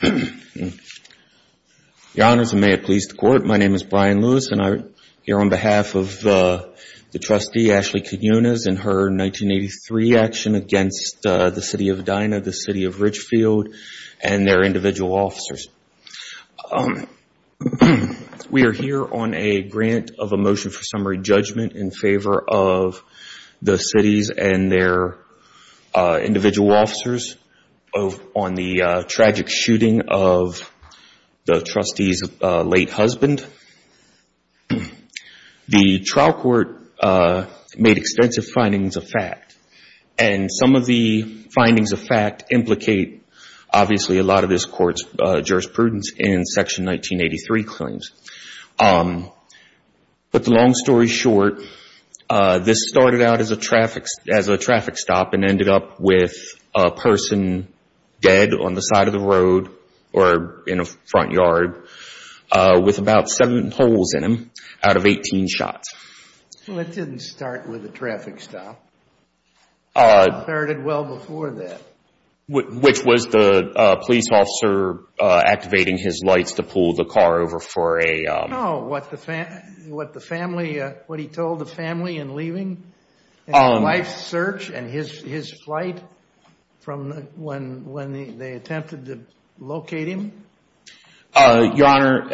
The honors and may it please the court, my name is Brian Lewis and I'm here on behalf of the trustee Ashley Quinones and her 1983 action against the City of Edina, the City of Ridgefield and their individual officers. We are here on a grant of a motion for summary shooting of the trustee's late husband. The trial court made extensive findings of fact and some of the findings of fact implicate obviously a lot of this court's jurisprudence in section 1983 claims. To put the long story short, this started out as a traffic stop and ended up with a person dead on the side of the road or in a front yard with about seven holes in him out of 18 shots. Well, it didn't start with a traffic stop. It started well before that. Which was the police officer activating his lights to pull the car over for a... Do you know what the family, what he told the family in leaving? His wife's search and his flight from when they attempted to locate him? Your Honor,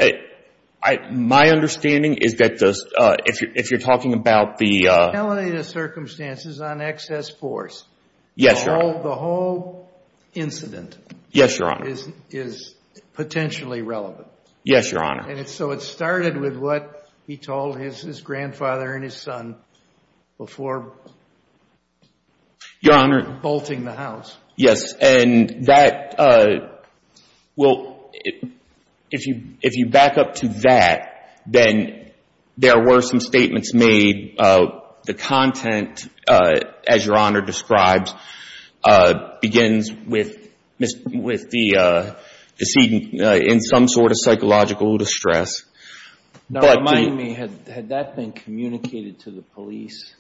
my understanding is that if you're talking about the... The circumstances on excess force. Yes, Your Honor. The whole incident... Yes, Your Honor. ...is potentially relevant. Yes, Your Honor. And so it started with what he told his grandfather and his son before... Your Honor... ...bolting the house. Yes. And that, well, if you back up to that, then there were some statements made. The content, as Your Honor describes, begins with the decedent in some sort of psychological distress. Now, remind me, had that been communicated to the police?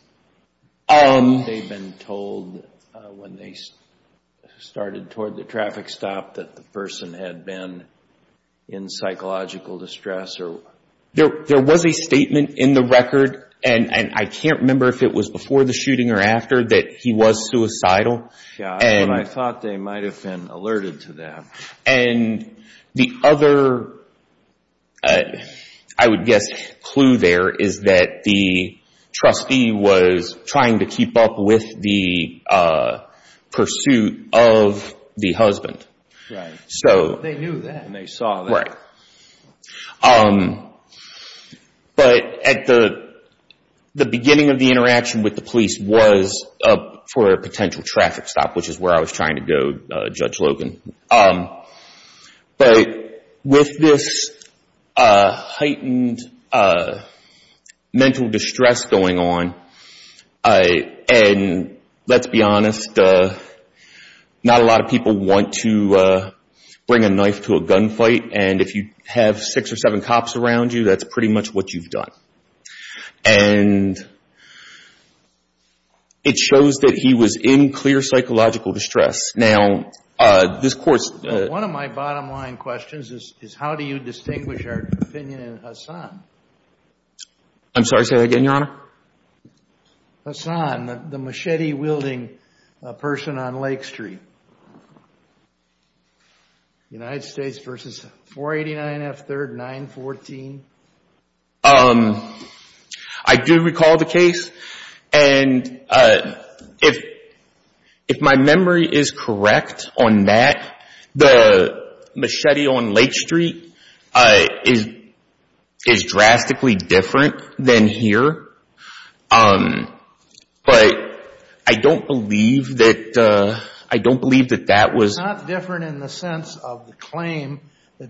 Had they been told when they started toward the traffic stop that the person had been in psychological distress? There was a statement in the record, and I can't remember if it was before the shooting or after, that he was suicidal. Yeah, but I thought they might have been alerted to that. And the other, I would guess, clue there is that the trustee was trying to keep up with the pursuit of the husband. Right. So... They knew that. And they saw that. Right. But at the beginning of the interaction with the police was for a potential traffic stop, which is where I was trying to go, Judge Logan. But with this heightened mental distress going on, and let's be honest, not a lot of people want to bring a knife to a gunfight. And if you have six or seven cops around you, that's pretty much what you've done. And it shows that he was in clear psychological distress. One of my bottom line questions is, how do you distinguish our opinion in Hassan? I'm sorry, say that again, Your Honor? Hassan, the machete-wielding person on Lake Street. United States v. 489 F. 3rd 914. I do recall the case. And if my memory is correct on that, the machete on Lake Street is drastically different than here. But I don't believe that that was...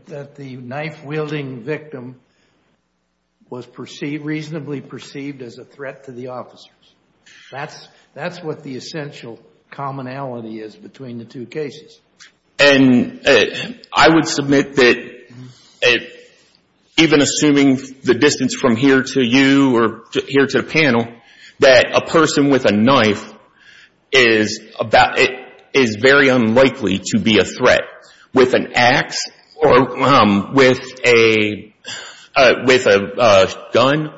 that the knife-wielding victim was reasonably perceived as a threat to the officers. That's what the essential commonality is between the two cases. And I would submit that even assuming the distance from here to you or here to the panel, that a person with a knife is very unlikely to be a threat. With an ax or with a gun,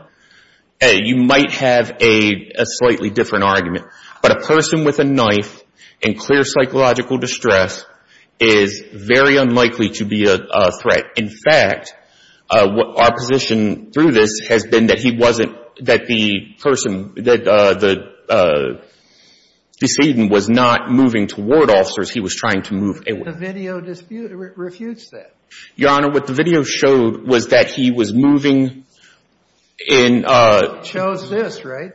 you might have a slightly different argument. But a person with a knife in clear psychological distress is very unlikely to be a threat. In fact, our position through this has been that he wasn't, that the person, that the decedent was not moving toward officers. He was trying to move... The video refutes that. Your Honor, what the video showed was that he was moving in... Shows this, right?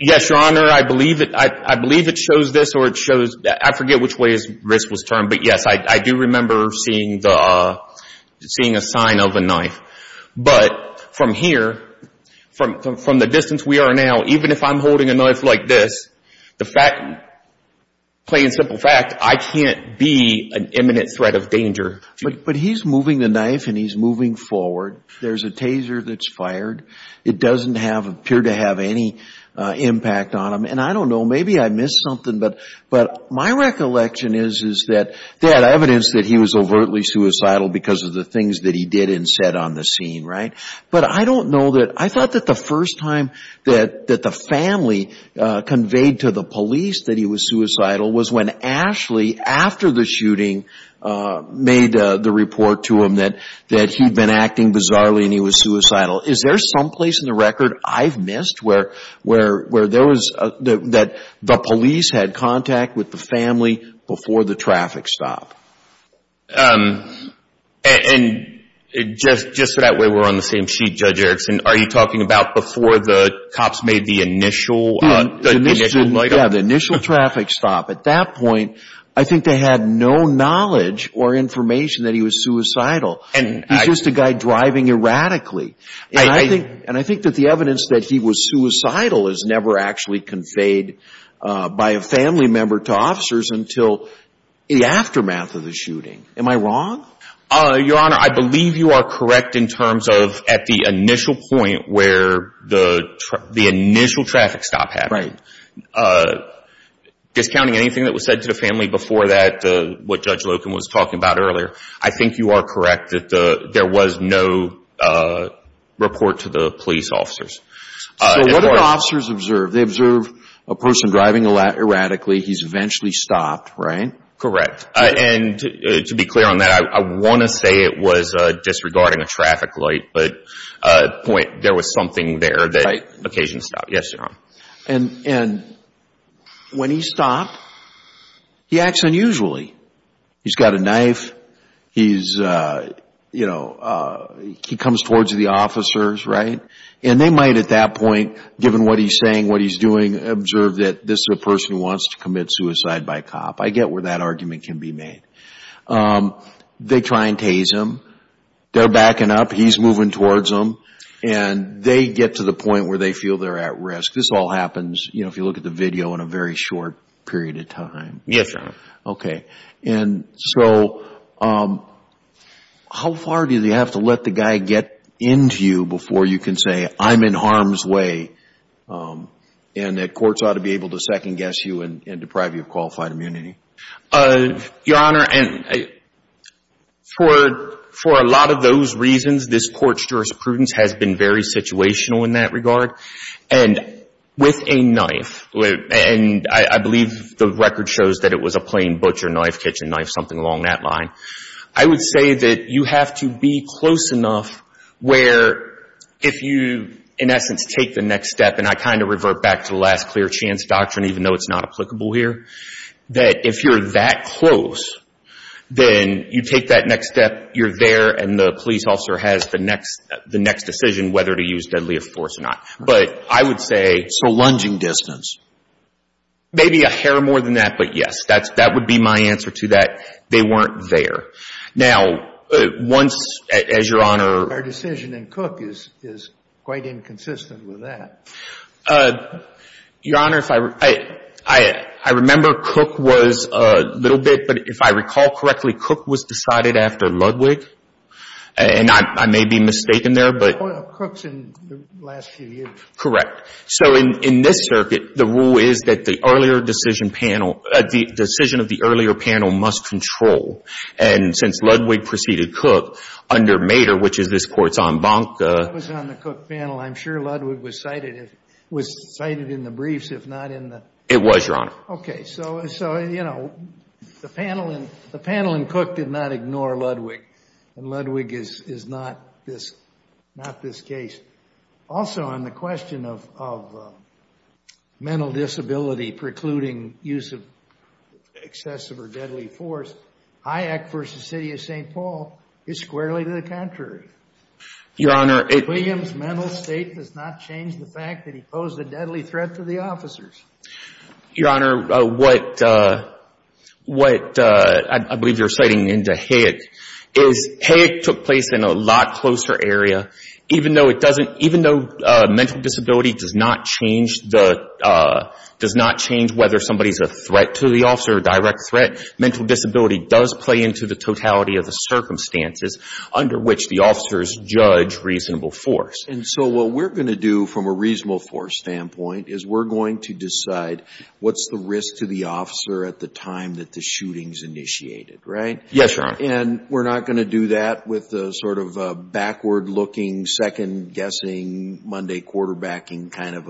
Yes, Your Honor. I believe it shows this or it shows... I forget which way his wrist was turned, but yes, I do remember seeing a sign of a knife. But from here, from the distance we are now, even if I'm holding a knife like this, the fact, plain and simple fact, I can't be an imminent threat of danger. But he's moving the knife and he's moving forward. There's a taser that's fired. It doesn't appear to have any impact on him. And I don't know. Maybe I missed something. But my recollection is that they had evidence that he was overtly suicidal because of the things that he did and said on the scene, right? But I don't know that... I thought that the first time that the family conveyed to the police that he was suicidal was when Ashley, after the shooting, made the report to him that he'd been acting bizarrely and he was suicidal. Is there someplace in the record I've missed where there was... that the police had contact with the family before the traffic stop? And just so that way we're on the same sheet, Judge Erickson, are you talking about before the cops made the initial... Yeah, the initial traffic stop. At that point, I think they had no knowledge or information that he was suicidal. He's just a guy driving erratically. And I think that the evidence that he was suicidal is never actually conveyed by a family member to officers until the aftermath of the shooting. Am I wrong? Your Honor, I believe you are correct in terms of at the initial point where the initial traffic stop happened. Right. Discounting anything that was said to the family before that, what Judge Loken was talking about earlier, I think you are correct that there was no report to the police officers. So what did officers observe? They observed a person driving erratically. He's eventually stopped, right? Correct. And to be clear on that, I want to say it was disregarding a traffic light, but there was something there that occasioned the stop. Yes, Your Honor. And when he stopped, he acts unusually. He's got a knife. He comes towards the officers, right? And they might at that point, given what he's saying, what he's doing, observe that this is a person who wants to commit suicide by cop. I get where that argument can be made. They try and tase him. They're backing up. He's moving towards them. And they get to the point where they feel they're at risk. This all happens, if you look at the video, in a very short period of time. Yes, Your Honor. Okay. And so how far do they have to let the guy get into you before you can say, I'm in harm's way, and that courts ought to be able to second-guess you and deprive you of qualified immunity? Your Honor, for a lot of those reasons, this court's jurisprudence has been very situational in that regard. And with a knife, and I believe the record shows that it was a plain butcher knife, kitchen knife, something along that line, I would say that you have to be close enough where if you, in essence, take the next step, and I kind of revert back to the last clear chance doctrine, even though it's not applicable here, that if you're that close, then you take that next step, you're there, and the police officer has the next decision whether to use deadly force or not. But I would say So lunging distance? Maybe a hair more than that, but yes. That would be my answer to that. They weren't there. Now, once, as Your Honor Our decision in Cook is quite inconsistent with that. Your Honor, I remember Cook was a little bit, but if I recall correctly, Cook was decided after Ludwig, and I may be mistaken there, but Cook's in the last few years. Correct. So in this circuit, the rule is that the earlier decision panel, the decision of the earlier panel must control, and since Ludwig preceded Cook under Mater, which is this court's en banc That was on the Cook panel. I'm sure Ludwig was cited in the briefs, if not in the It was, Your Honor. Okay. So, you know, the panel in Cook did not ignore Ludwig, and Ludwig is not this case. Also, on the question of mental disability precluding use of excessive or deadly force, Hayek v. City of St. Paul is squarely to the contrary. Your Honor, it William's mental state does not change the fact that he posed a deadly threat to the officers. Your Honor, what I believe you're citing into Hayek is Hayek took place in a lot closer area. Even though mental disability does not change whether somebody is a threat to the officer, a direct threat, mental disability does play into the totality of the circumstances under which the officers judge reasonable force. And so what we're going to do from a reasonable force standpoint is we're going to decide what's the risk to the officer at the time that the shooting's initiated, right? Yes, Your Honor. And we're not going to do that with the sort of backward-looking, second-guessing, Monday quarterbacking kind of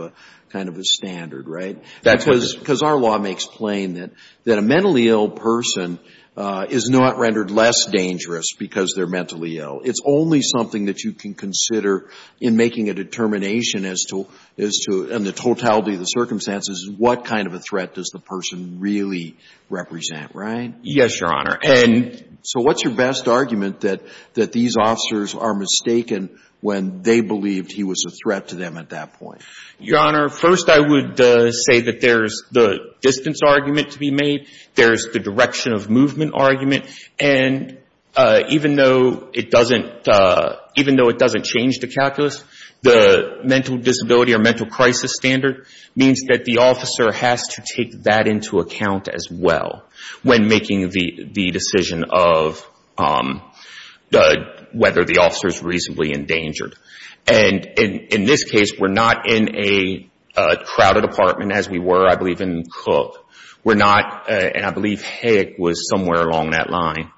a standard, right? That's what it is. Because our law makes plain that a mentally ill person is not rendered less dangerous because they're mentally ill. It's only something that you can consider in making a determination as to the totality of the circumstances, what kind of a threat does the person really represent, right? Yes, Your Honor. And so what's your best argument that these officers are mistaken when they believed he was a threat to them at that point? Your Honor, first I would say that there's the distance argument to be made. There's the direction of movement argument. And even though it doesn't change the calculus, the mental disability or mental crisis standard means that the officer has to take that into account as well when making the decision of whether the officer's reasonably endangered. And in this case, we're not in a crowded apartment as we were, I believe, in Cook. We're not, and I believe Hayek was somewhere along that line.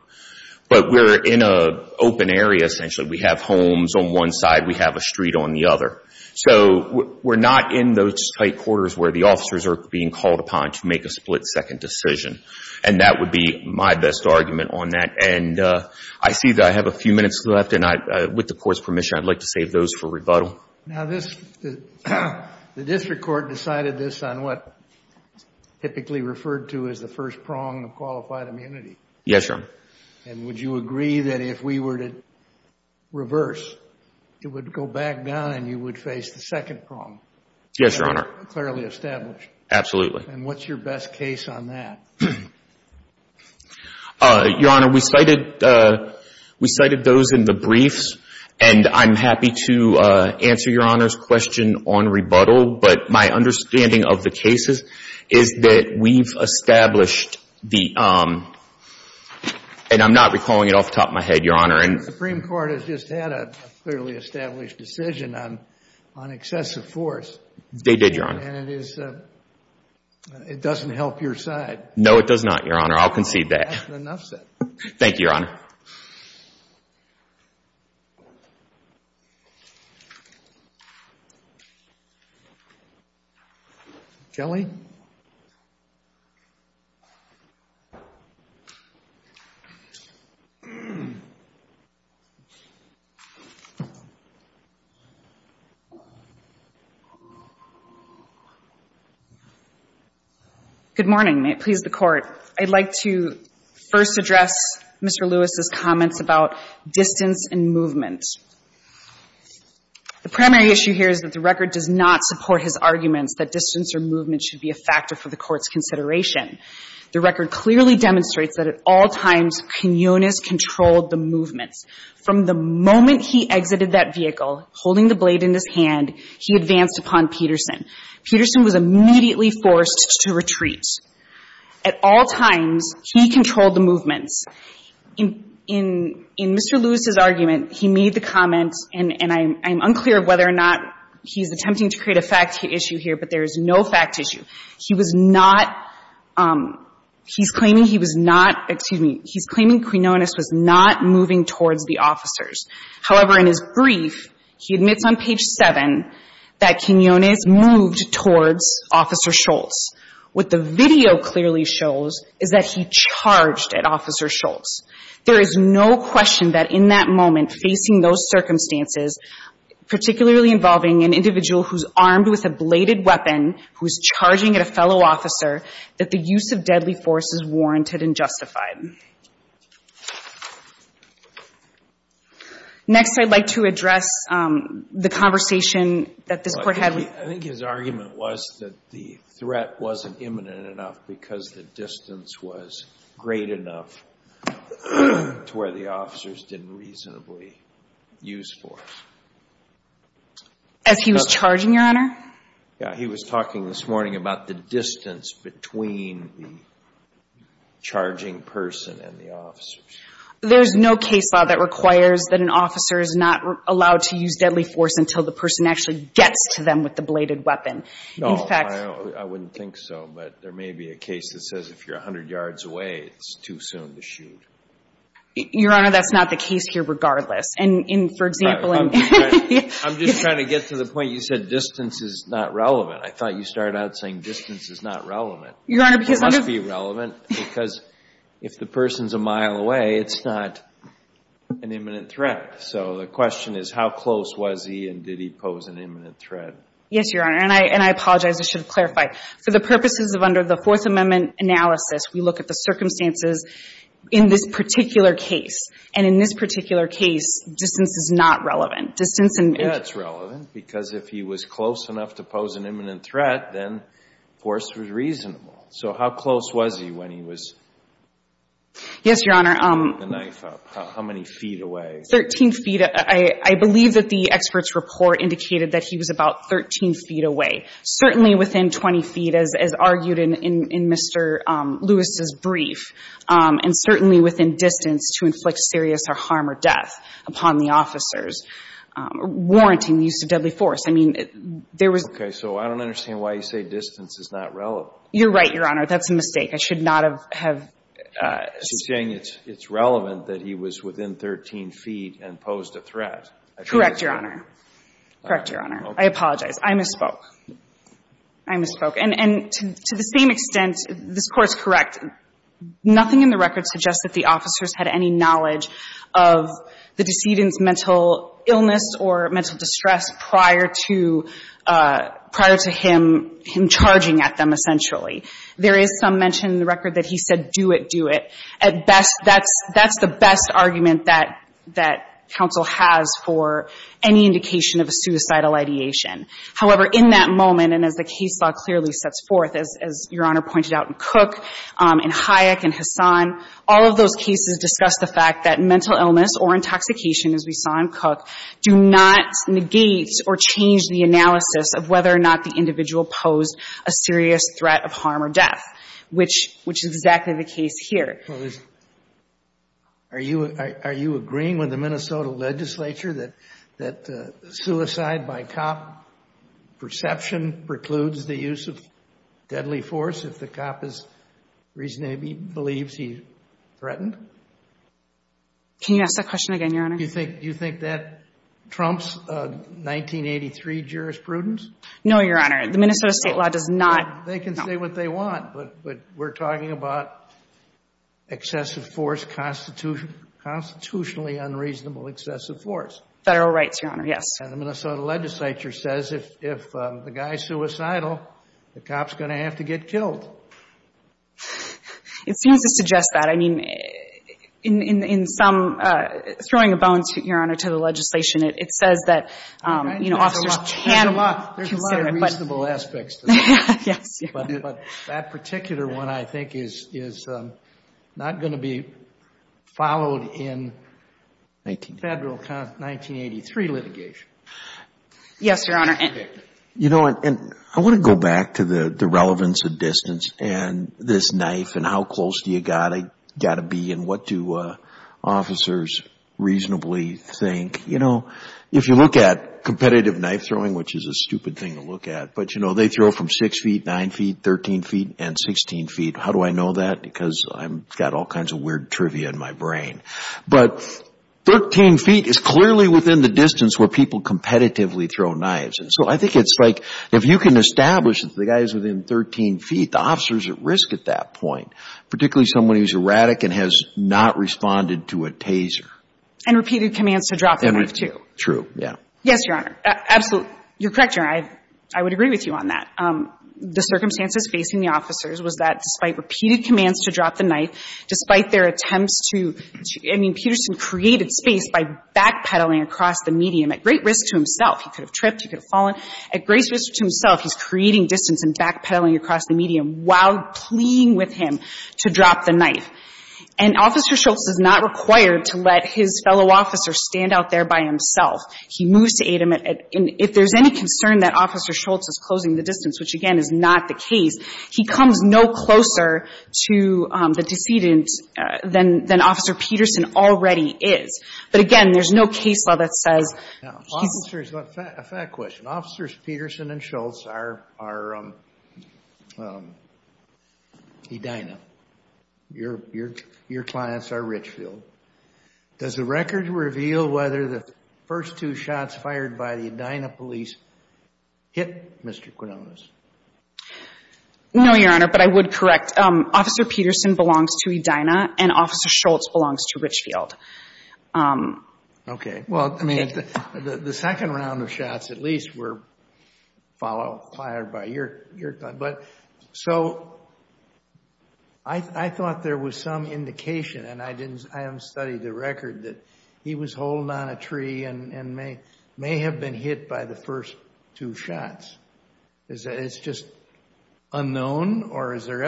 But we're in an open area, essentially. We have homes on one side. We have a street on the other. So we're not in those tight quarters where the officers are being called upon to make a split-second decision. And that would be my best argument on that. And I see that I have a few minutes left, and with the Court's permission, I'd like to save those for rebuttal. Now, the district court decided this on what's typically referred to as the first prong of qualified immunity. Yes, Your Honor. And would you agree that if we were to reverse, it would go back down and you would face the second prong? Yes, Your Honor. Clearly established. Absolutely. And what's your best case on that? Your Honor, we cited those in the briefs, and I'm happy to answer Your Honor's question on rebuttal. But my understanding of the cases is that we've established the, and I'm not recalling it off the top of my head, Your Honor. The Supreme Court has just had a clearly established decision on excessive force. They did, Your Honor. And it doesn't help your side. No, it does not, Your Honor. I'll concede that. That's enough said. Thank you, Your Honor. Kelly? Good morning. Your Honor, I'd like to first address Mr. Lewis's comments about distance and movement. The primary issue here is that the record does not support his arguments that distance or movement should be a factor for the Court's consideration. The record clearly demonstrates that at all times Kunyonis controlled the movements. From the moment he exited that vehicle, holding the blade in his hand, he advanced upon Peterson. Peterson was immediately forced to retreat. At all times, he controlled the movements. In Mr. Lewis's argument, he made the comment, and I'm unclear of whether or not he's attempting to create a fact issue here, but there is no fact issue. He was not, he's claiming he was not, excuse me, he's claiming Kunyonis was not moving towards the officers. However, in his brief, he admits on page 7 that Kunyonis moved towards Officer Schultz. What the video clearly shows is that he charged at Officer Schultz. There is no question that in that moment, facing those circumstances, particularly involving an individual who's armed with a bladed weapon, who's charging at a fellow officer, that the use of deadly force is warranted and justified. Next, I'd like to address the conversation that this Court had with – the threat wasn't imminent enough because the distance was great enough to where the officers didn't reasonably use force. As he was charging, Your Honor? Yeah, he was talking this morning about the distance between the charging person and the officers. There's no case law that requires that an officer is not allowed to use deadly force until the person actually gets to them with the bladed weapon. No, I wouldn't think so. But there may be a case that says if you're 100 yards away, it's too soon to shoot. Your Honor, that's not the case here regardless. And for example – I'm just trying to get to the point. You said distance is not relevant. I thought you started out saying distance is not relevant. It must be relevant because if the person's a mile away, it's not an imminent threat. So the question is how close was he and did he pose an imminent threat? Yes, Your Honor. And I apologize, I should have clarified. For the purposes of under the Fourth Amendment analysis, we look at the circumstances in this particular case. And in this particular case, distance is not relevant. Distance – Yeah, it's relevant because if he was close enough to pose an imminent threat, then force was reasonable. So how close was he when he was – Yes, Your Honor. – holding the knife up? How many feet away? Thirteen feet. Thirteen feet. I believe that the expert's report indicated that he was about 13 feet away, certainly within 20 feet as argued in Mr. Lewis' brief, and certainly within distance to inflict serious harm or death upon the officers, warranting the use of deadly force. I mean, there was – Okay. So I don't understand why you say distance is not relevant. You're right, Your Honor. That's a mistake. I should not have – She's saying it's relevant that he was within 13 feet and posed a threat. Correct, Your Honor. Correct, Your Honor. I apologize. I misspoke. I misspoke. And to the same extent, this Court's correct. Nothing in the record suggests that the officers had any knowledge of the decedent's mental illness or mental distress prior to him charging at them, essentially. There is some mention in the record that he said, do it, do it. At best, that's the best argument that counsel has for any indication of a suicidal ideation. However, in that moment, and as the case law clearly sets forth, as Your Honor pointed out in Cook and Hayek and Hassan, all of those cases discuss the fact that mental illness or intoxication, as we saw in Cook, do not negate or change the harm or death, which is exactly the case here. Are you agreeing with the Minnesota legislature that suicide by cop perception precludes the use of deadly force if the cop believes he threatened? Can you ask that question again, Your Honor? Do you think that trumps 1983 jurisprudence? No, Your Honor. The Minnesota state law does not. They can say what they want, but we're talking about excessive force, constitutionally unreasonable excessive force. Federal rights, Your Honor, yes. And the Minnesota legislature says if the guy's suicidal, the cop's going to have to get killed. It seems to suggest that. I mean, in some, throwing a bone, Your Honor, to the legislation, it says that officers can consider it. But that particular one, I think, is not going to be followed in federal 1983 litigation. Yes, Your Honor. You know, and I want to go back to the relevance of distance and this knife and how close do you got to be and what do officers reasonably think. You know, if you look at competitive knife throwing, which is a stupid thing to look at, but, you know, they throw from 6 feet, 9 feet, 13 feet, and 16 feet. How do I know that? Because I've got all kinds of weird trivia in my brain. But 13 feet is clearly within the distance where people competitively throw knives. And so I think it's like if you can establish that the guy's within 13 feet, the officer's at risk at that point, particularly someone who's erratic and has not responded to a taser. And repeated commands to drop the knife, too. True, yeah. Yes, Your Honor. Absolutely. You're correct, Your Honor. I would agree with you on that. The circumstances facing the officers was that despite repeated commands to drop the knife, despite their attempts to — I mean, Peterson created space by backpedaling across the medium at great risk to himself. He could have tripped. He could have fallen. At great risk to himself, he's creating distance and backpedaling across the medium while pleading with him to drop the knife. And Officer Schultz is not required to let his fellow officers stand out there by himself. He moves to aid him. And if there's any concern that Officer Schultz is closing the distance, which, again, is not the case, he comes no closer to the decedent than Officer Peterson already is. But, again, there's no case law that says he's — Now, officers — a fact question. Officers Peterson and Schultz are — Edina. Your clients are Richfield. Does the record reveal whether the first two shots fired by the Edina police hit Mr. Quinones? No, Your Honor, but I would correct. Officer Peterson belongs to Edina and Officer Schultz belongs to Richfield. Okay. Well, I mean, the second round of shots at least were followed — fired by your — but So I thought there was some indication, and I didn't — I haven't studied the record, that he was holding on a tree and may have been hit by the first two shots. Is that — it's just unknown? Or is there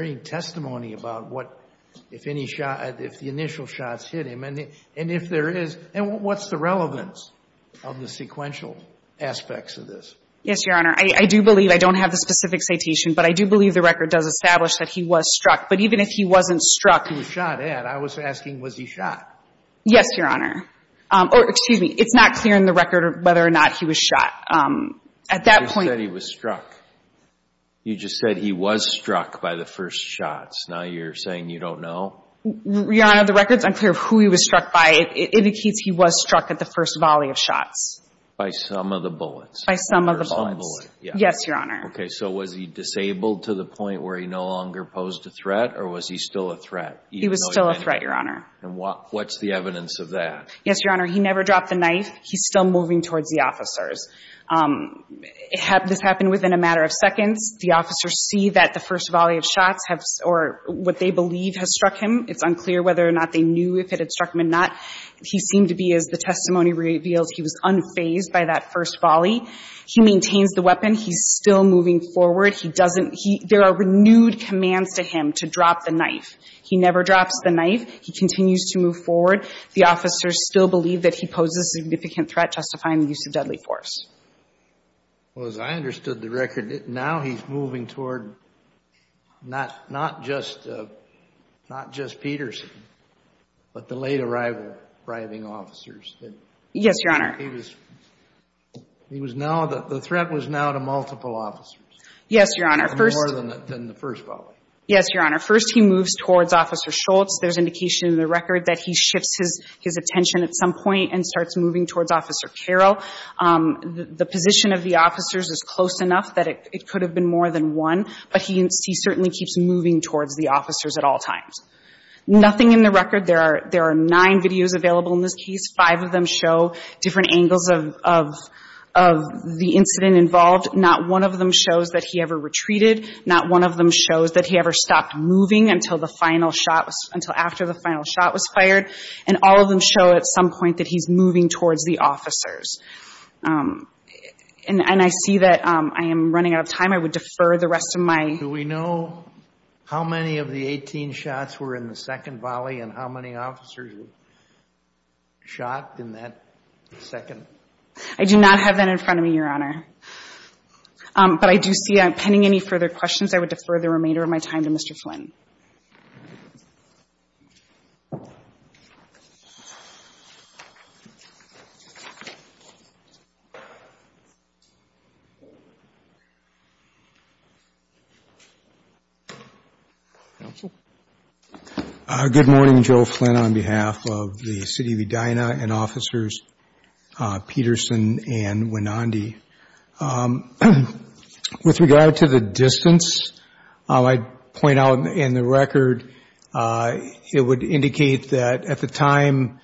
any testimony about what — if any shot — if the initial shots hit him? And if there is — and what's the relevance of the sequential aspects of this? Yes, Your Honor. I do believe — I don't have the specific citation, but I do believe the record does establish that he was struck. But even if he wasn't struck — He was shot at. I was asking, was he shot? Yes, Your Honor. Or, excuse me, it's not clear in the record whether or not he was shot. At that point — You just said he was struck. You just said he was struck by the first shots. Now you're saying you don't know? Your Honor, the record's unclear of who he was struck by. It indicates he was struck at the first volley of shots. By some of the bullets. By some of the bullets. Yes, Your Honor. Okay. So was he disabled to the point where he no longer posed a threat, or was he still a threat? He was still a threat, Your Honor. And what's the evidence of that? Yes, Your Honor. He never dropped the knife. He's still moving towards the officers. This happened within a matter of seconds. The officers see that the first volley of shots have — or what they believe has struck him. It's unclear whether or not they knew if it had struck him or not. He seemed to be, as the testimony reveals, he was unfazed by that first volley. He maintains the weapon. He's still moving forward. He doesn't — there are renewed commands to him to drop the knife. He never drops the knife. He continues to move forward. The officers still believe that he poses a significant threat justifying the use of deadly force. Well, as I understood the record, now he's moving toward not just Peterson, but the late-arrival driving officers. Yes, Your Honor. He was — he was now — the threat was now to multiple officers. Yes, Your Honor. More than the first volley. Yes, Your Honor. First, he moves towards Officer Schultz. There's indication in the record that he shifts his attention at some point and starts moving towards Officer Carroll. The position of the officers is close enough that it could have been more than one, but he certainly keeps moving towards the officers at all times. Nothing in the record — there are nine videos available in this case. Five of them show different angles of the incident involved. Not one of them shows that he ever retreated. Not one of them shows that he ever stopped moving until the final shot — until after the final shot was fired. And all of them show at some point that he's moving towards the officers. And I see that I am running out of time. I would defer the rest of my — Do we know how many of the 18 shots were in the second volley and how many officers were shot in that second? I do not have that in front of me, Your Honor. But I do see, pending any further questions, I would defer the remainder of my time to Mr. Flynn. Counsel? Good morning, Joe Flynn, on behalf of the city of Edina and officers Peterson and Winandi. With regard to the distance, I point out in the record it would indicate that at the time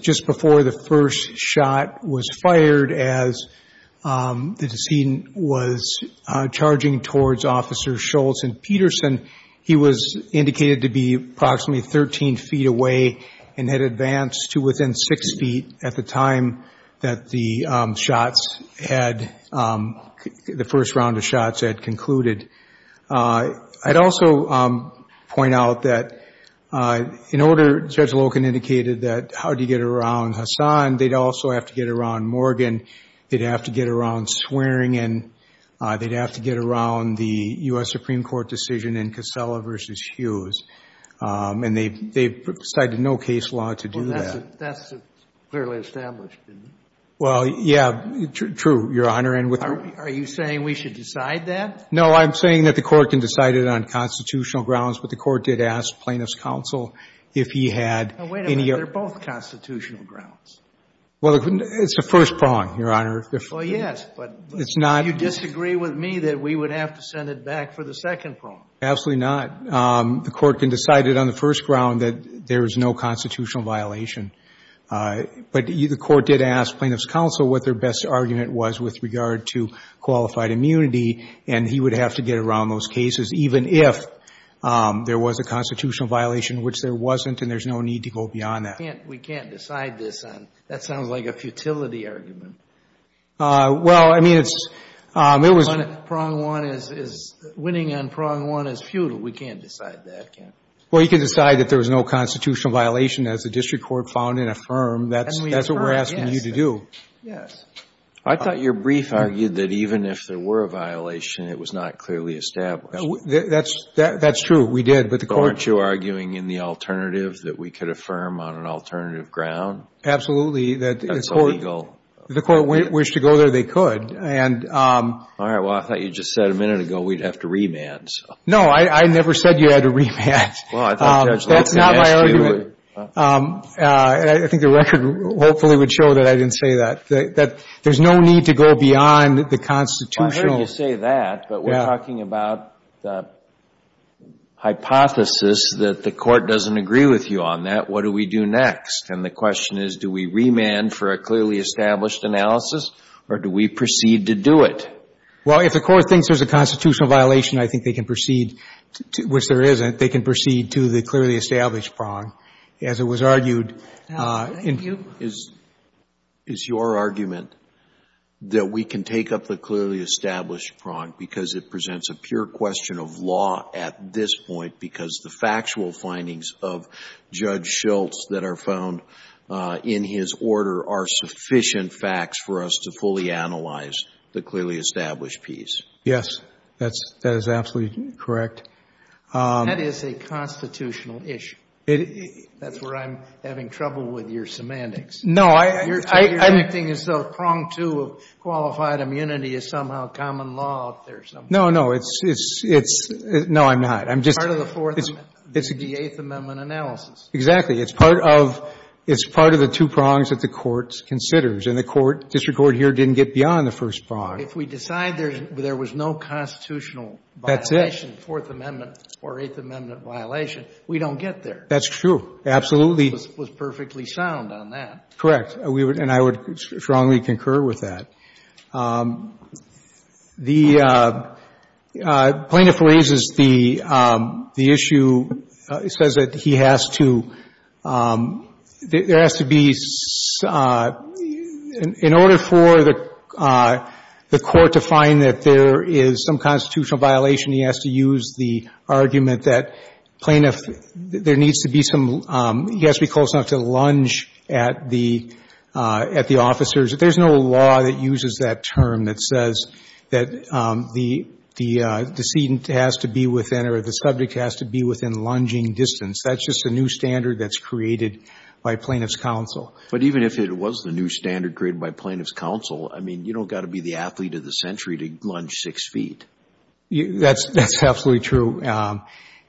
just before the first shot was fired as the decedent was charging towards Officer Scholz and Peterson, he was indicated to be approximately 13 feet away and had advanced to within six feet at the time that the shots had — the first round of shots had concluded. I'd also point out that in order — Judge Loken indicated that how do you get around Hassan? They'd also have to get around Morgan. They'd have to get around Swearingen. They'd have to get around the U.S. Supreme Court decision in Casella v. Hughes. And they've cited no case law to do that. Well, that's clearly established, isn't it? Well, yeah, true, Your Honor. Are you saying we should decide that? No, I'm saying that the Court can decide it on constitutional grounds, but the Court did ask plaintiffs' counsel if he had any — Now, wait a minute. They're both constitutional grounds. Well, it's the first prong, Your Honor. Well, yes, but — It's not — Do you disagree with me that we would have to send it back for the second prong? Absolutely not. The Court can decide it on the first ground that there is no constitutional violation. But the Court did ask plaintiffs' counsel what their best argument was with regard to qualified immunity, and he would have to get around those cases, even if there was a constitutional violation, which there wasn't, and there's no need to go beyond that. We can't decide this on — that sounds like a futility argument. Well, I mean, it's — Prong one is — winning on prong one is futile. We can't decide that, can we? Well, you can decide that there was no constitutional violation, as the District Court found and affirmed. That's what we're asking you to do. Yes. I thought your brief argued that even if there were a violation, it was not clearly established. That's — that's true. We did, but the Court — Aren't you arguing in the alternative that we could affirm on an alternative ground? Absolutely. That's illegal. If the Court wished to go there, they could. And — All right. Well, I thought you just said a minute ago we'd have to remand, so — No, I never said you had to remand. Well, I thought Judge Loeb had asked you — That's not my argument. I think the record hopefully would show that I didn't say that. That there's no need to go beyond the constitutional — Well, I heard you say that, but we're talking about the hypothesis that the Court doesn't agree with you on that. What do we do next? And the question is, do we remand for a clearly established analysis, or do we proceed to do it? Well, if the Court thinks there's a constitutional violation, I think they can proceed — which there isn't. They can proceed to the clearly established prong. As it was argued in — Thank you. Is your argument that we can take up the clearly established prong because it presents a pure question of law at this point because the factual findings of Judge Schultz that are found in his order are sufficient facts for us to fully analyze the clearly established piece? Yes. That is absolutely correct. That is a constitutional issue. That's where I'm having trouble with your semantics. No, I — You're acting as though prong two of qualified immunity is somehow common law out there somehow. No, no. It's — no, I'm not. I'm just — Part of the Fourth — the Eighth Amendment analysis. Exactly. It's part of — it's part of the two prongs that the Court considers. And the Court — District Court here didn't get beyond the first prong. If we decide there was no constitutional violation — That's it. Fourth Amendment or Eighth Amendment violation, we don't get there. That's true. Absolutely. It was perfectly sound on that. Correct. And I would strongly concur with that. The plaintiff raises the issue — says that he has to — there has to be — in order for the Court to find that there is some constitutional violation, he has to use the argument that plaintiff — there needs to be some — he has to be close enough to lunge at the — at the officers. There's no law that uses that term that says that the decedent has to be within or the subject has to be within lunging distance. That's just a new standard that's created by Plaintiff's counsel. But even if it was the new standard created by Plaintiff's counsel, I mean, you don't got to be the athlete of the century to lunge six feet. That's absolutely true.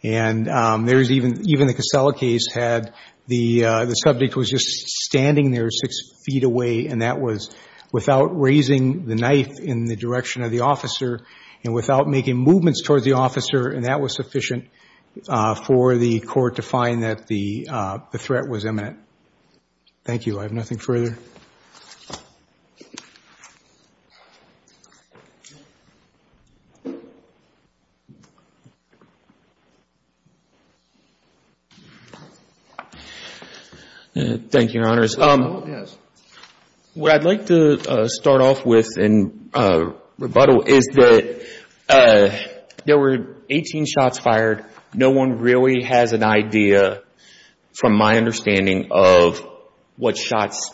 And there's even — even the Casella case had the subject was just standing there six feet away, and that was without raising the knife in the direction of the officer and without making movements towards the officer, and that was sufficient for the Court to find that the threat was imminent. Thank you. I have nothing further. Thank you, Your Honors. What I'd like to start off with in rebuttal is that there were 18 shots fired. No one really has an idea, from my understanding, of what shots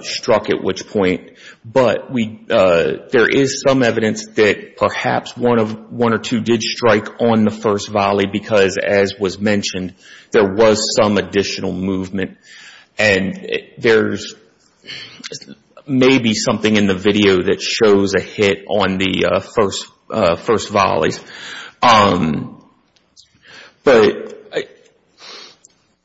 struck at which point. But we — there is some evidence that perhaps one of — one or two did strike on the first volley because, as was mentioned, there was some additional movement. And there's maybe something in the video that shows a hit on the first volleys. But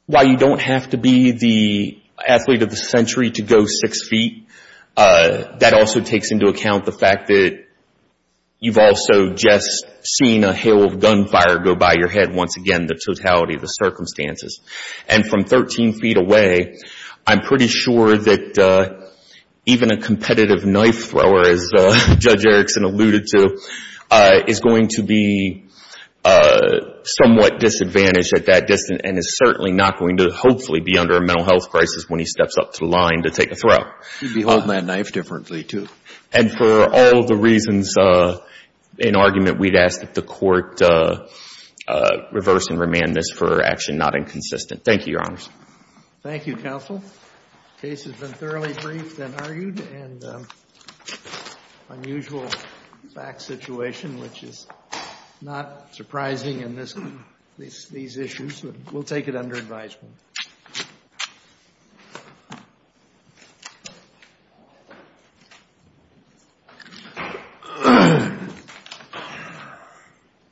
while you don't have to be the athlete of the century to go six feet, that also takes into account the fact that you've also just seen a hail of gunfire go by your head once again, the totality of the circumstances. And from 13 feet away, I'm pretty sure that even a competitive knife thrower, as Judge Erickson alluded to, is going to be somewhat disadvantaged at that distance and is certainly not going to hopefully be under a mental health crisis when he steps up to the line to take a throw. He'd be holding that knife differently, too. And for all the reasons in argument, we'd ask that the Court reverse and remand this for action not inconsistent. Thank you, Your Honors. Thank you, Counsel. The case has been thoroughly briefed and argued. And unusual fact situation, which is not surprising in this — these issues. We'll take it under advisement.